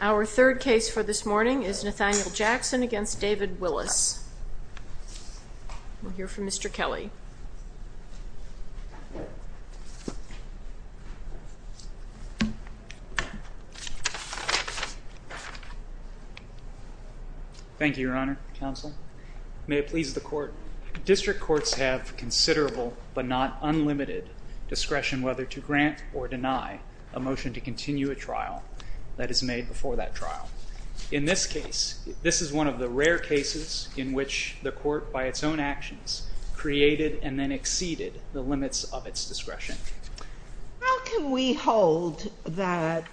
Our third case for this morning is Nathaniel Jackson v. David Willis. We'll hear from Mr. Kelley. Thank you, Your Honor, Counsel. May it please the Court. District courts have considerable but not unlimited discretion whether to grant or deny a motion to continue a trial that is made before that trial. In this case, this is one of the rare cases in which the Court, by its own actions, created and then exceeded the limits of its discretion. How can we hold that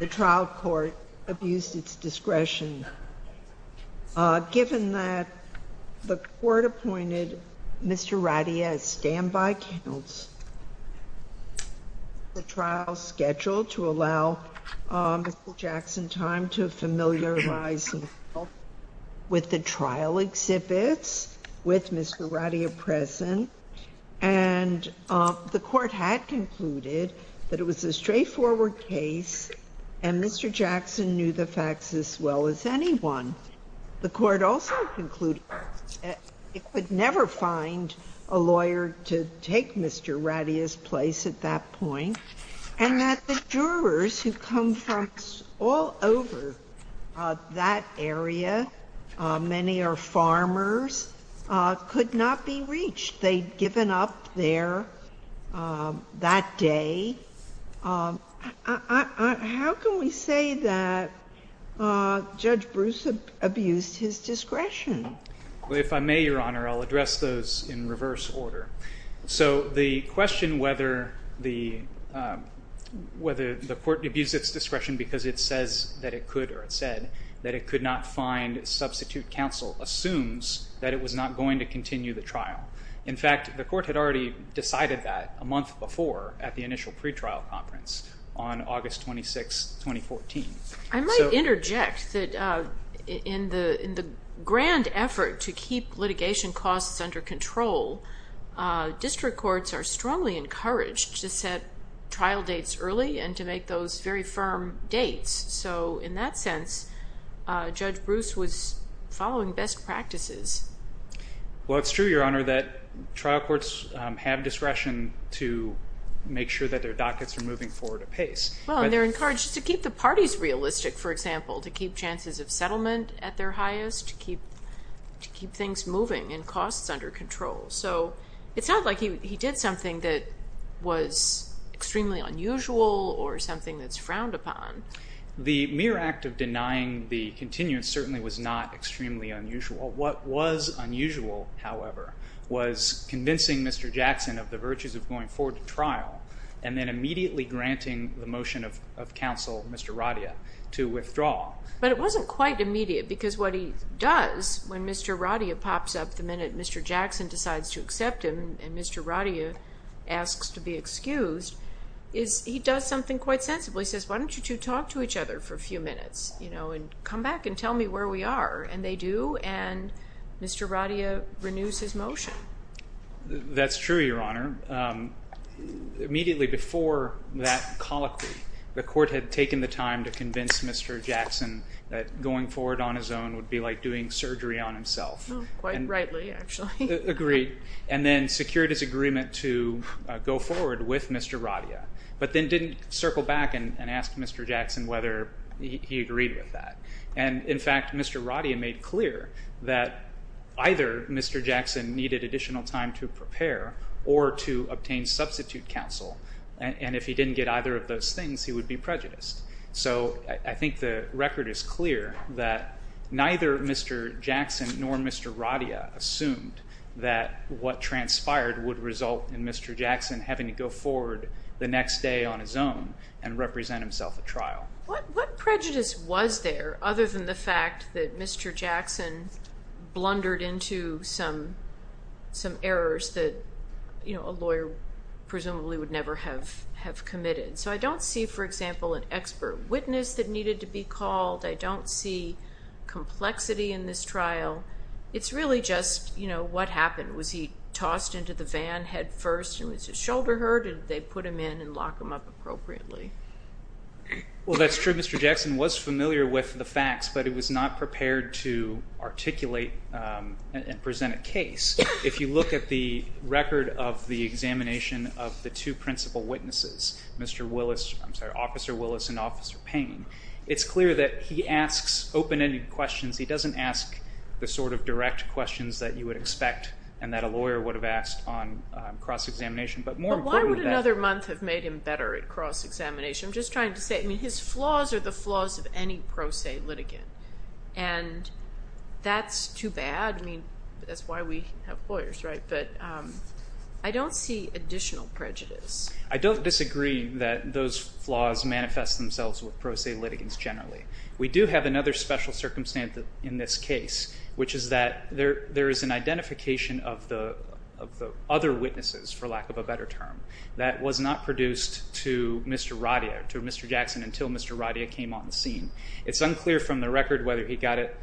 the trial court abused its discretion, given that the Court appointed Mr. Radia as standby counsel? The trial is scheduled to allow Mr. Jackson time to familiarize himself with the trial exhibits, with Mr. Radia present, and the Court had concluded that it was a straightforward case and Mr. Jackson knew the facts as well as anyone. The Court also concluded it would never find a lawyer to take Mr. Radia's place at that point, and that the jurors who come from all over that area, many are farmers, could not be reached. They'd given up there that day. How can we say that Judge Bruce abused his discretion? Well, if I may, Your Honor, I'll address those in reverse order. So the question whether the Court abused its discretion because it says that it could or it said that it could not find substitute counsel assumes that it was not going to continue the trial. In fact, the Court had already decided that a month before at the initial pretrial conference on August 26, 2014. I might interject that in the grand effort to keep litigation costs under control, district courts are strongly encouraged to set trial dates early and to make those very firm dates. So in that sense, Judge Bruce was following best practices. Well, it's true, Your Honor, that trial courts have discretion to make sure that their dockets are moving forward apace. Well, and they're encouraged to keep the parties realistic, for example, to keep chances of settlement at their highest, to keep things moving and costs under control. So it sounds like he did something that was extremely unusual or something that's frowned upon. The mere act of denying the continuance certainly was not extremely unusual. What was unusual, however, was convincing Mr. Jackson of the virtues of going forward to trial and then immediately granting the motion of counsel, Mr. Radia, to withdraw. But it wasn't quite immediate because what he does when Mr. Radia pops up the minute Mr. Jackson decides to accept him and Mr. Radia asks to be excused is he does something quite sensible. He says, why don't you two talk to each other for a few minutes, you know, and come back and tell me where we are? And they do, and Mr. Radia renews his motion. That's true, Your Honor. Immediately before that colloquy, the court had taken the time to convince Mr. Jackson that going forward on his own would be like doing surgery on himself. Quite rightly, actually. Agreed, and then secured his agreement to go forward with Mr. Radia, but then didn't circle back and ask Mr. Jackson whether he agreed with that. And, in fact, Mr. Radia made clear that either Mr. Jackson needed additional time to prepare or to obtain substitute counsel, and if he didn't get either of those things, he would be prejudiced. So I think the record is clear that neither Mr. Jackson nor Mr. Radia assumed that what transpired would result in Mr. Jackson having to go forward the next day on his own and represent himself at trial. What prejudice was there other than the fact that Mr. Jackson blundered into some errors that, you know, a lawyer presumably would never have committed? So I don't see, for example, an expert witness that needed to be called. I don't see complexity in this trial. It's really just, you know, what happened. Was he tossed into the van headfirst and was his shoulder hurt, or did they put him in and lock him up appropriately? Well, that's true. Mr. Jackson was familiar with the facts, but he was not prepared to articulate and present a case. If you look at the record of the examination of the two principal witnesses, Mr. Willis, I'm sorry, Officer Willis and Officer Payne, it's clear that he asks open-ended questions. He doesn't ask the sort of direct questions that you would expect and that a lawyer would have asked on cross-examination. But why would another month have made him better at cross-examination? I'm just trying to say, I mean, his flaws are the flaws of any pro se litigant, and that's too bad. I mean, that's why we have lawyers, right? But I don't see additional prejudice. I don't disagree that those flaws manifest themselves with pro se litigants generally. We do have another special circumstance in this case, which is that there is an identification of the other witnesses, for lack of a better term, that was not produced to Mr. Radia, to Mr. Jackson, until Mr. Radia came on the scene. It's unclear from the record whether he got it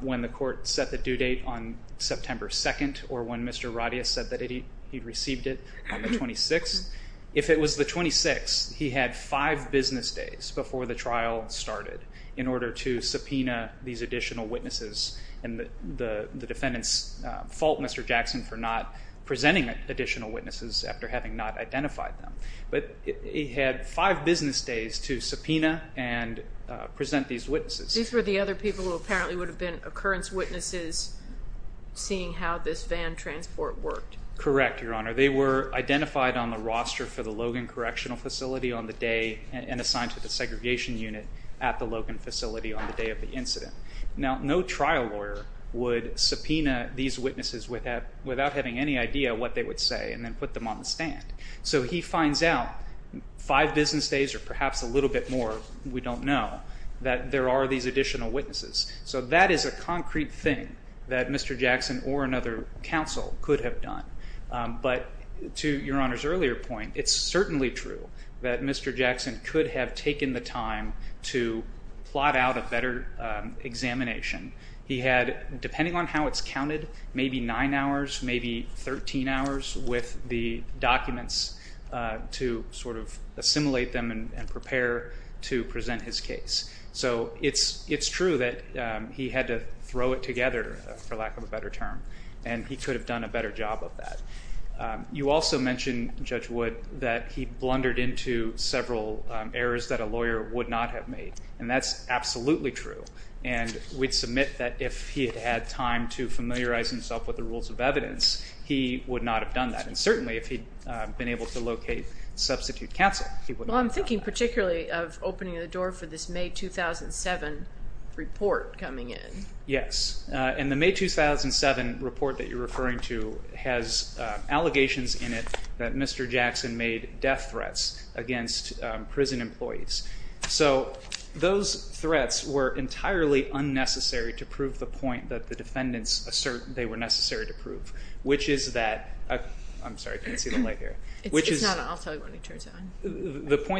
when the court set the due date on September 2nd or when Mr. Radia said that he received it on the 26th. If it was the 26th, he had five business days before the trial started in order to subpoena these additional witnesses. And the defendants fault Mr. Jackson for not presenting additional witnesses after having not identified them. But he had five business days to subpoena and present these witnesses. These were the other people who apparently would have been occurrence witnesses, seeing how this van transport worked. Correct, Your Honor. They were identified on the roster for the Logan Correctional Facility on the day and assigned to the segregation unit at the Logan facility on the day of the incident. Now, no trial lawyer would subpoena these witnesses without having any idea what they would say and then put them on the stand. So he finds out five business days or perhaps a little bit more, we don't know, that there are these additional witnesses. So that is a concrete thing that Mr. Jackson or another counsel could have done. But to Your Honor's earlier point, it's certainly true that Mr. Jackson could have taken the time to plot out a better examination. He had, depending on how it's counted, maybe nine hours, maybe 13 hours, with the documents to sort of assimilate them and prepare to present his case. So it's true that he had to throw it together, for lack of a better term, and he could have done a better job of that. You also mentioned, Judge Wood, that he blundered into several errors that a lawyer would not have made, and that's absolutely true. And we'd submit that if he had had time to familiarize himself with the rules of evidence, he would not have done that. And certainly if he'd been able to locate substitute counsel, he wouldn't have done that. Well, I'm thinking particularly of opening the door for this May 2007 report coming in. Yes. And the May 2007 report that you're referring to has allegations in it that Mr. Jackson made death threats against prison employees. So those threats were entirely unnecessary to prove the point that the defendants assert they were necessary to prove, which is that the point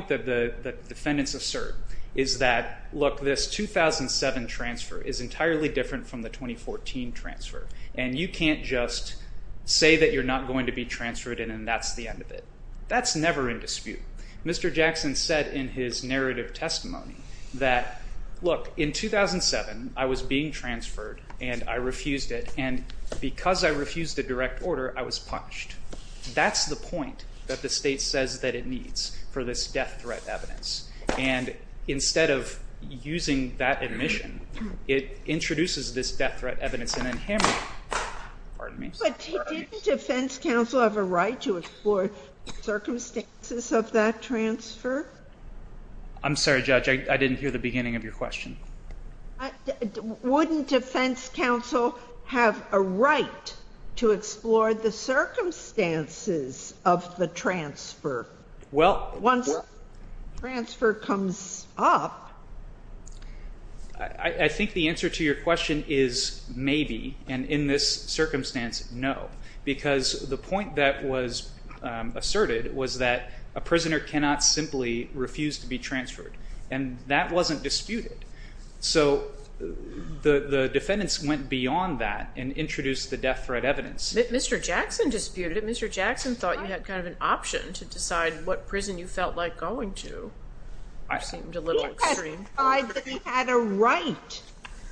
that the defendants assert is that, look, this 2007 transfer is entirely different from the 2014 transfer, and you can't just say that you're not going to be transferred and that's the end of it. That's never in dispute. Mr. Jackson said in his narrative testimony that, look, in 2007 I was being transferred and I refused it, and because I refused the direct order, I was punished. That's the point that the state says that it needs for this death threat evidence. And instead of using that admission, it introduces this death threat evidence and then hammers it. But didn't defense counsel have a right to explore the circumstances of that transfer? I'm sorry, Judge. I didn't hear the beginning of your question. Wouldn't defense counsel have a right to explore the circumstances of the transfer? Once transfer comes up. I think the answer to your question is maybe, and in this circumstance, no, because the point that was asserted was that a prisoner cannot simply refuse to be transferred, and that wasn't disputed. So the defendants went beyond that and introduced the death threat evidence. Mr. Jackson disputed it. Mr. Jackson thought you had kind of an option to decide what prison you felt like going to. It seemed a little extreme. He had a right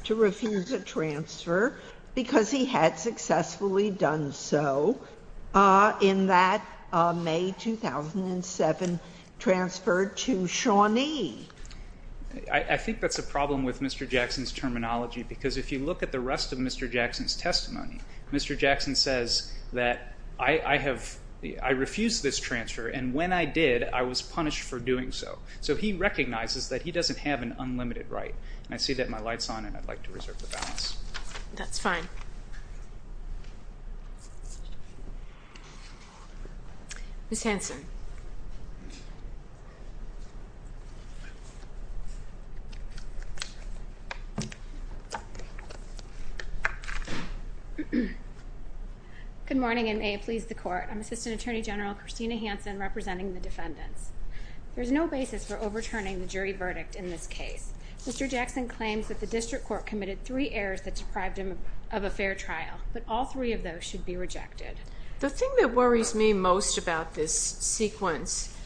to refuse a transfer because he had successfully done so in that May 2007 transfer to Shawnee. I think that's a problem with Mr. Jackson's terminology because if you look at the rest of Mr. Jackson's testimony, Mr. Jackson says that I refused this transfer, and when I did, I was punished for doing so. So he recognizes that he doesn't have an unlimited right. And I see that my light's on, and I'd like to reserve the balance. That's fine. Ms. Hanson. Good morning, and may it please the Court. I'm Assistant Attorney General Christina Hanson representing the defendants. There's no basis for overturning the jury verdict in this case. Mr. Jackson claims that the district court committed three errors that deprived him of a fair trial, but all three of those should be rejected. The thing that worries me most about this sequence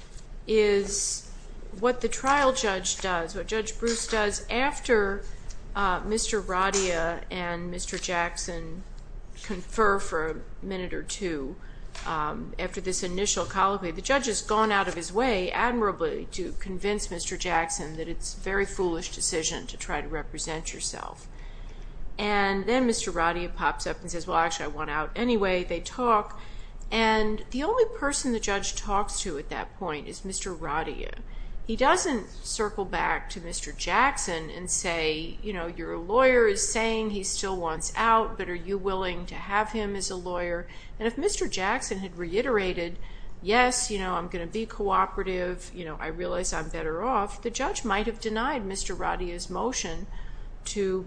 is what the trial judge does, what Judge Bruce does after Mr. Radia and Mr. Jackson confer for a minute or two after this initial colloquy. The judge has gone out of his way, admirably, to convince Mr. Jackson that it's a very foolish decision to try to represent yourself. And then Mr. Radia pops up and says, well, actually, I want out anyway. They talk, and the only person the judge talks to at that point is Mr. Radia. He doesn't circle back to Mr. Jackson and say, you know, your lawyer is saying he still wants out, but are you willing to have him as a lawyer? And if Mr. Jackson had reiterated, yes, you know, I'm going to be cooperative, you know, I realize I'm better off, the judge might have denied Mr. Radia's motion to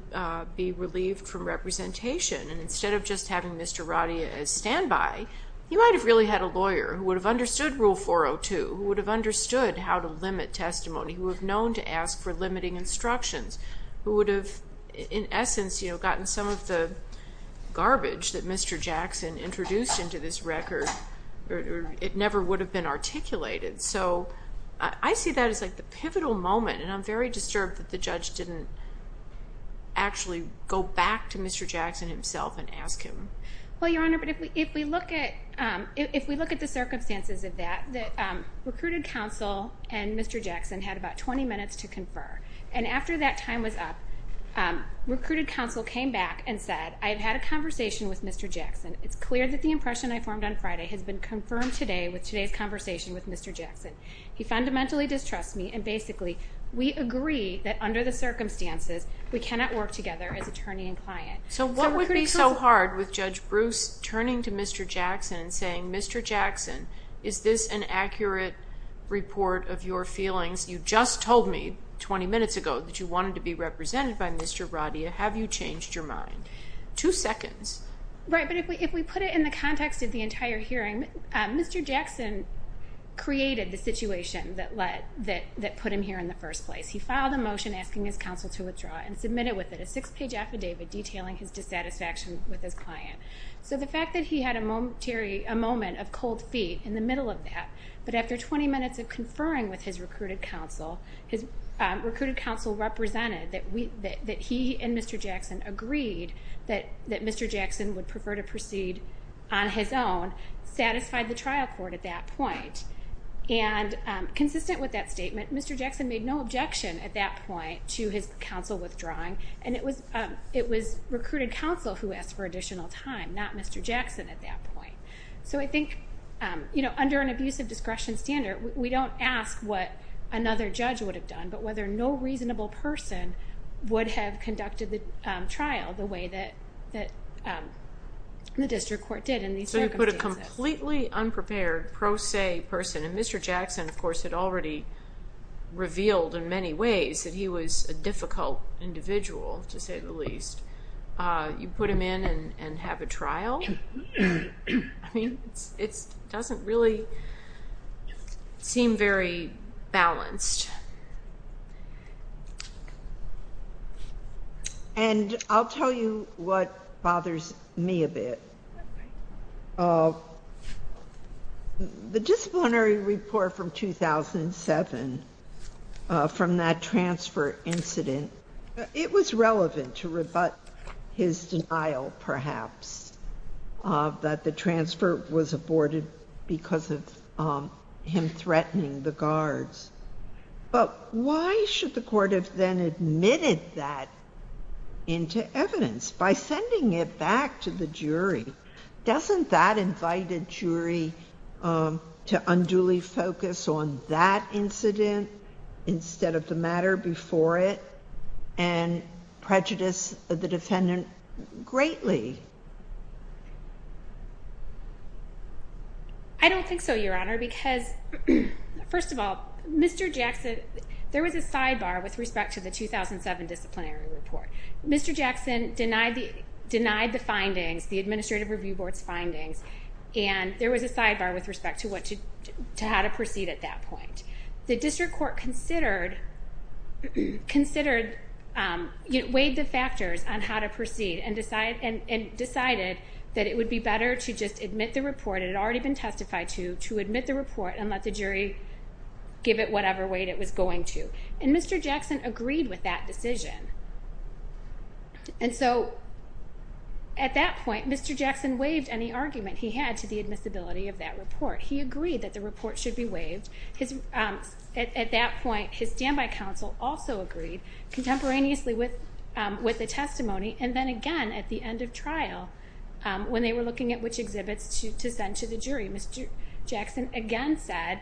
be relieved from representation. And instead of just having Mr. Radia as standby, he might have really had a lawyer who would have understood Rule 402, who would have understood how to limit testimony, who would have known to ask for limiting instructions, who would have, in essence, you know, gotten some of the garbage that Mr. Jackson introduced into this record. It never would have been articulated. So I see that as like the pivotal moment, and I'm very disturbed that the judge didn't actually go back to Mr. Jackson himself and ask him. Well, Your Honor, but if we look at the circumstances of that, the recruited counsel and Mr. Jackson had about 20 minutes to confer. And after that time was up, recruited counsel came back and said, I've had a conversation with Mr. Jackson. It's clear that the impression I formed on Friday has been confirmed today with today's conversation with Mr. Jackson. He fundamentally distrusts me, and basically, we agree that under the circumstances, we cannot work together as attorney and client. So what would be so hard with Judge Bruce turning to Mr. Jackson and saying, Mr. Jackson, is this an accurate report of your feelings? You just told me 20 minutes ago that you wanted to be represented by Mr. Radia. Have you changed your mind? Two seconds. Right, but if we put it in the context of the entire hearing, Mr. Jackson created the situation that put him here in the first place. He filed a motion asking his counsel to withdraw and submitted with it a six-page affidavit detailing his dissatisfaction with his client. So the fact that he had a moment of cold feet in the middle of that, but after 20 minutes of conferring with his recruited counsel, his recruited counsel represented that he and Mr. Jackson agreed that Mr. Jackson would prefer to proceed on his own, satisfied the trial court at that point. And consistent with that statement, Mr. Jackson made no objection at that point to his counsel withdrawing, and it was recruited counsel who asked for additional time, not Mr. Jackson at that point. So I think under an abusive discretion standard, we don't ask what another judge would have done, but whether no reasonable person would have conducted the trial the way that the district court did in these circumstances. But a completely unprepared pro se person, and Mr. Jackson, of course, had already revealed in many ways that he was a difficult individual, to say the least. You put him in and have a trial? I mean, it doesn't really seem very balanced. And I'll tell you what bothers me a bit. The disciplinary report from 2007, from that transfer incident, it was relevant to rebut his denial, perhaps, that the transfer was aborted because of him threatening the guards. But why should the court have then admitted that into evidence by sending it back to the jury? Doesn't that invite a jury to unduly focus on that incident instead of the matter before it and prejudice the defendant greatly? I don't think so, Your Honor, because, first of all, Mr. Jackson, there was a sidebar with respect to the 2007 disciplinary report. Mr. Jackson denied the findings, the Administrative Review Board's findings, and there was a sidebar with respect to how to proceed at that point. The district court weighed the factors on how to proceed and decided that it would be better to just admit the report it had already been testified to, to admit the report and let the jury give it whatever weight it was going to. And Mr. Jackson agreed with that decision. And so at that point, Mr. Jackson waived any argument he had to the admissibility of that report. He agreed that the report should be waived. At that point, his standby counsel also agreed contemporaneously with the testimony and then again at the end of trial when they were looking at which exhibits to send to the jury. Mr. Jackson again said,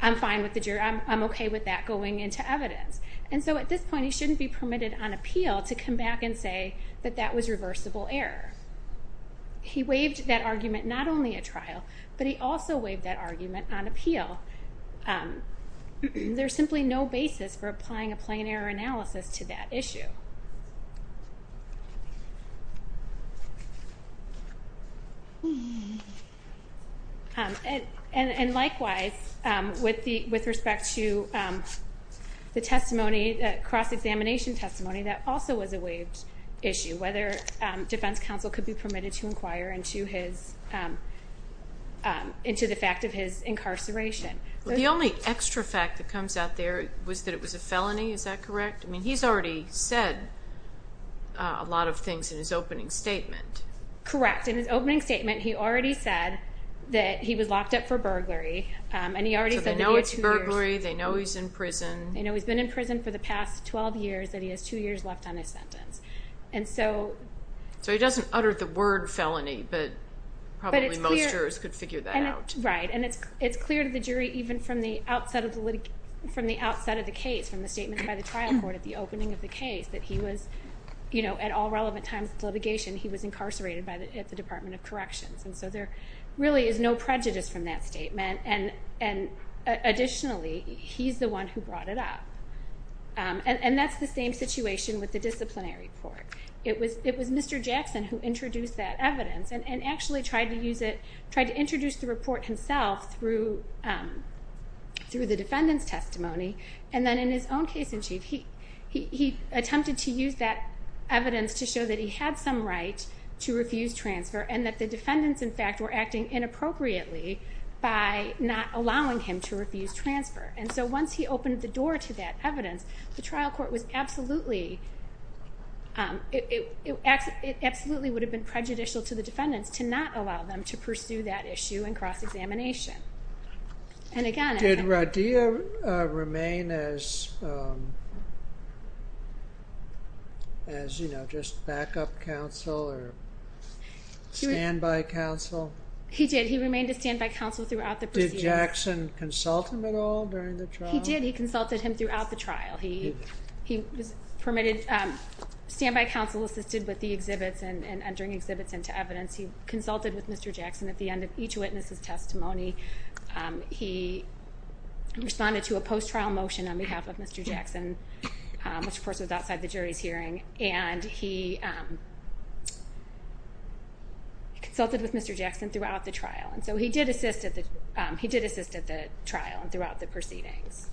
I'm fine with the jury. I'm okay with that going into evidence. And so at this point, he shouldn't be permitted on appeal to come back and say that that was reversible error. He waived that argument not only at trial, but he also waived that argument on appeal. There's simply no basis for applying a plain error analysis to that issue. And likewise, with respect to the cross-examination testimony, that also was a waived issue, whether defense counsel could be permitted to inquire into the fact of his incarceration. The only extra fact that comes out there was that it was a felony. Is that correct? I mean, he's already said a lot of things in his opening statement. Correct. In his opening statement, he already said that he was locked up for burglary. So they know it's burglary. They know he's in prison. They know he's been in prison for the past 12 years, that he has two years left on his sentence. So he doesn't utter the word felony, but probably most jurors could figure that out. Right. And it's clear to the jury even from the outset of the case, from the statement by the trial court at the opening of the case, that at all relevant times of litigation, he was incarcerated at the Department of Corrections. And so there really is no prejudice from that statement. And additionally, he's the one who brought it up. And that's the same situation with the disciplinary report. It was Mr. Jackson who introduced that evidence and actually tried to use it, tried to introduce the report himself through the defendant's testimony. And then in his own case in chief, he attempted to use that evidence to show that he had some right to refuse transfer and that the defendants, in fact, were acting inappropriately by not allowing him to refuse transfer. And so once he opened the door to that evidence, the trial court was absolutely, it absolutely would have been prejudicial to the defendants to not allow them to pursue that issue in cross-examination. And again- Did Radia remain as, you know, just backup counsel or standby counsel? He did. He remained a standby counsel throughout the proceedings. Did Mr. Jackson consult him at all during the trial? He did. He consulted him throughout the trial. He was permitted, standby counsel assisted with the exhibits and entering exhibits into evidence. He consulted with Mr. Jackson at the end of each witness's testimony. He responded to a post-trial motion on behalf of Mr. Jackson, which, of course, was outside the jury's hearing. And he consulted with Mr. Jackson throughout the trial. And so he did assist at the trial and throughout the proceedings.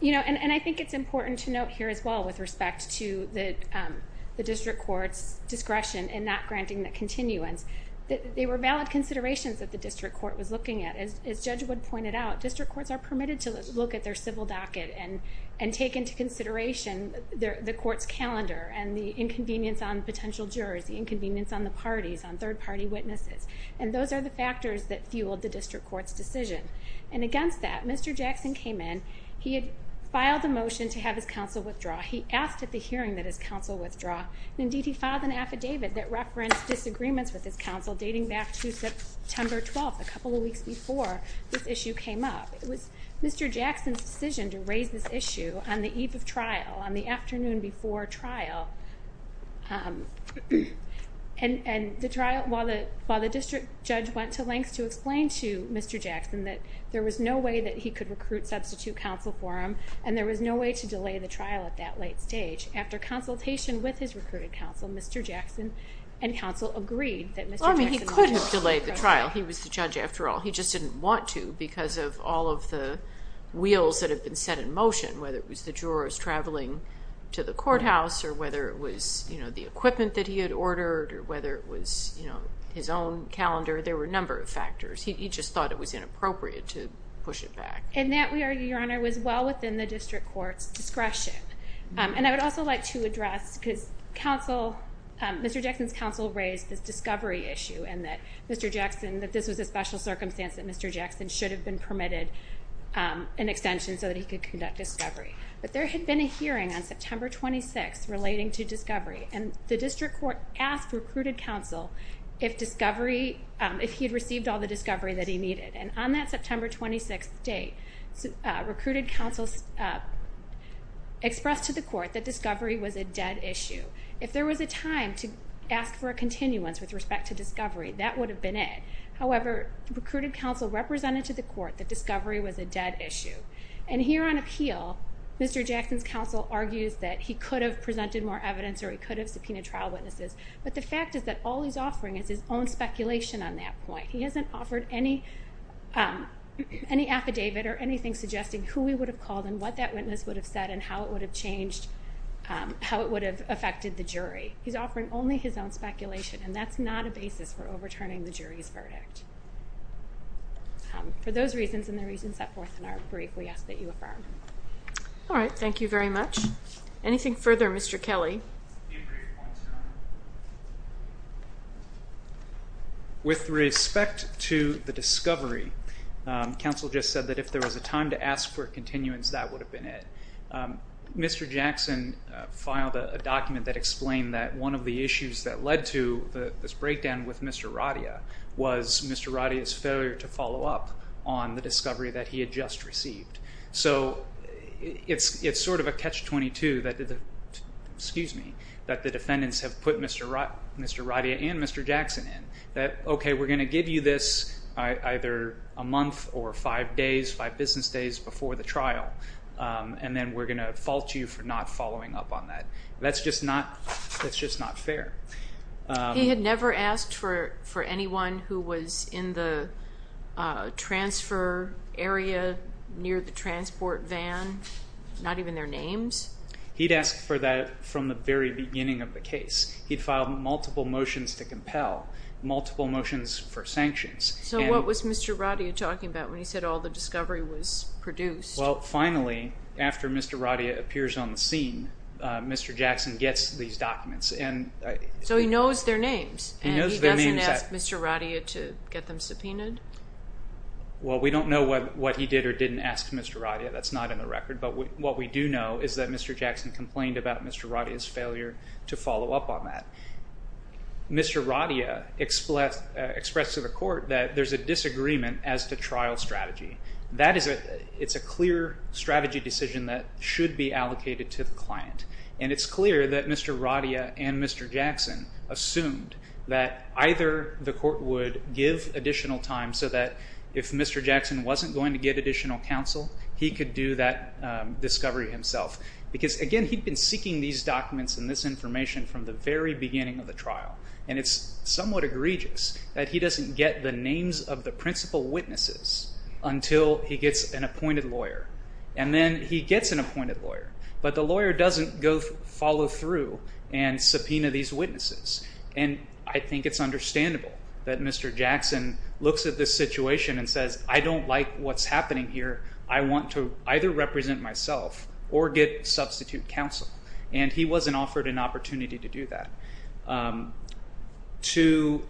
You know, and I think it's important to note here as well with respect to the district court's discretion in not granting the continuance that there were valid considerations that the district court was looking at. As Judge Wood pointed out, district courts are permitted to look at their civil docket and take into consideration the court's calendar and the inconvenience on potential jurors, the inconvenience on the parties, on third-party witnesses. And those are the factors that fueled the district court's decision. And against that, Mr. Jackson came in. He had filed a motion to have his counsel withdraw. He asked at the hearing that his counsel withdraw. Indeed, he filed an affidavit that referenced disagreements with his counsel dating back to September 12th, a couple of weeks before this issue came up. It was Mr. Jackson's decision to raise this issue on the eve of trial, on the afternoon before trial. And the trial, while the district judge went to lengths to explain to Mr. Jackson that there was no way that he could recruit substitute counsel for him and there was no way to delay the trial at that late stage, after consultation with his recruited counsel, Mr. Jackson and counsel agreed that Mr. Jackson would withdraw. Well, I mean, he could have delayed the trial. He was the judge after all. He just didn't want to because of all of the wheels that had been set in motion, whether it was the jurors traveling to the courthouse or whether it was the equipment that he had ordered or whether it was his own calendar. There were a number of factors. He just thought it was inappropriate to push it back. And that, Your Honor, was well within the district court's discretion. And I would also like to address, because Mr. Jackson's counsel raised this discovery issue and that this was a special circumstance, that Mr. Jackson should have been permitted an extension so that he could conduct discovery. But there had been a hearing on September 26th relating to discovery, and the district court asked recruited counsel if he had received all the discovery that he needed. And on that September 26th date, recruited counsel expressed to the court that discovery was a dead issue. If there was a time to ask for a continuance with respect to discovery, that would have been it. However, recruited counsel represented to the court that discovery was a dead issue. And here on appeal, Mr. Jackson's counsel argues that he could have presented more evidence or he could have subpoenaed trial witnesses. But the fact is that all he's offering is his own speculation on that point. He hasn't offered any affidavit or anything suggesting who he would have called and what that witness would have said and how it would have changed, how it would have affected the jury. He's offering only his own speculation, and that's not a basis for overturning the jury's verdict. For those reasons and the reasons set forth in our brief, we ask that you affirm. All right, thank you very much. Anything further, Mr. Kelly? With respect to the discovery, counsel just said that if there was a time to ask for a continuance, that would have been it. Mr. Jackson filed a document that explained that one of the issues that led to this breakdown with Mr. Radia was Mr. Radia's failure to follow up on the discovery that he had just received. So it's sort of a catch-22 that the defendants have put Mr. Radia and Mr. Jackson in, that, okay, we're going to give you this either a month or five days, five business days before the trial, and then we're going to fault you for not following up on that. That's just not fair. He had never asked for anyone who was in the transfer area near the transport van, not even their names? He'd asked for that from the very beginning of the case. He'd filed multiple motions to compel, multiple motions for sanctions. So what was Mr. Radia talking about when he said all the discovery was produced? Well, finally, after Mr. Radia appears on the scene, Mr. Jackson gets these documents. So he knows their names, and he doesn't ask Mr. Radia to get them subpoenaed? Well, we don't know what he did or didn't ask Mr. Radia. That's not in the record. But what we do know is that Mr. Jackson complained about Mr. Radia's failure to follow up on that. Mr. Radia expressed to the court that there's a disagreement as to trial strategy. It's a clear strategy decision that should be allocated to the client, and it's clear that Mr. Radia and Mr. Jackson assumed that either the court would give additional time so that if Mr. Jackson wasn't going to get additional counsel, he could do that discovery himself. Because, again, he'd been seeking these documents and this information from the very beginning of the trial, and it's somewhat egregious that he doesn't get the names of the principal witnesses until he gets an appointed lawyer. And then he gets an appointed lawyer, but the lawyer doesn't go follow through and subpoena these witnesses. And I think it's understandable that Mr. Jackson looks at this situation and says, I don't like what's happening here. I want to either represent myself or get substitute counsel. And he wasn't offered an opportunity to do that. To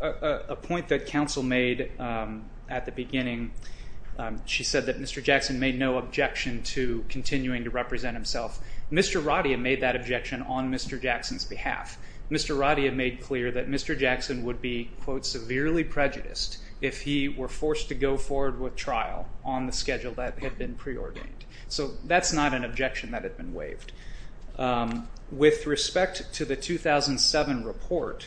a point that counsel made at the beginning, she said that Mr. Jackson made no objection to continuing to represent himself. Mr. Radia made that objection on Mr. Jackson's behalf. Mr. Radia made clear that Mr. Jackson would be, quote, severely prejudiced if he were forced to go forward with trial on the schedule that had been preordained. So that's not an objection that had been waived. With respect to the 2007 report,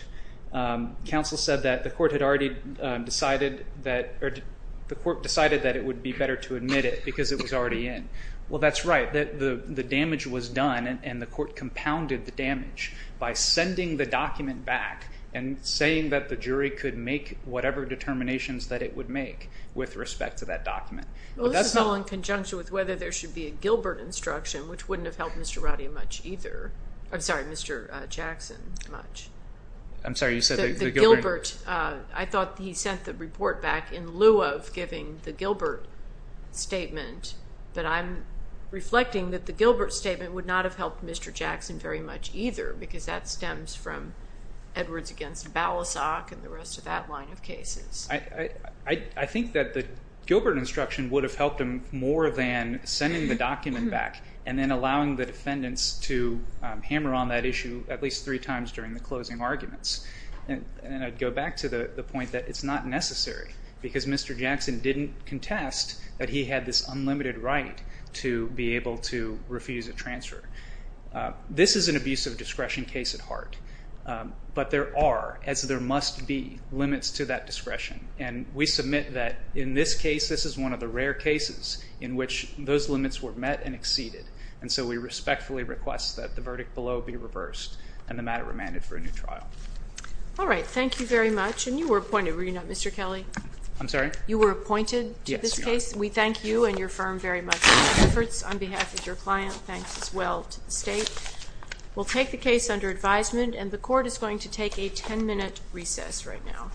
counsel said that the court had already decided that it would be better to admit it because it was already in. Well, that's right. The damage was done, and the court compounded the damage by sending the document back and saying that the jury could make whatever determinations that it would make with respect to that document. Well, this is all in conjunction with whether there should be a Gilbert instruction, which wouldn't have helped Mr. Radia much either. I'm sorry, Mr. Jackson much. I'm sorry, you said the Gilbert? I thought he sent the report back in lieu of giving the Gilbert statement, but I'm reflecting that the Gilbert statement would not have helped Mr. Jackson very much either because that stems from Edwards against Balasag and the rest of that line of cases. I think that the Gilbert instruction would have helped him more than sending the document back and then allowing the defendants to hammer on that issue at least three times during the closing arguments. And I'd go back to the point that it's not necessary because Mr. Jackson didn't contest that he had this unlimited right to be able to refuse a transfer. This is an abuse of discretion case at heart, but there are, as there must be, limits to that discretion. And we submit that in this case, this is one of the rare cases in which those limits were met and exceeded. And so we respectfully request that the verdict below be reversed and the matter remanded for a new trial. All right, thank you very much. And you were appointed, were you not, Mr. Kelly? I'm sorry? You were appointed to this case? Yes, we are. We thank you and your firm very much for your efforts. On behalf of your client, thanks as well to the state. We'll take the case under advisement, and the court is going to take a 10-minute recess right now.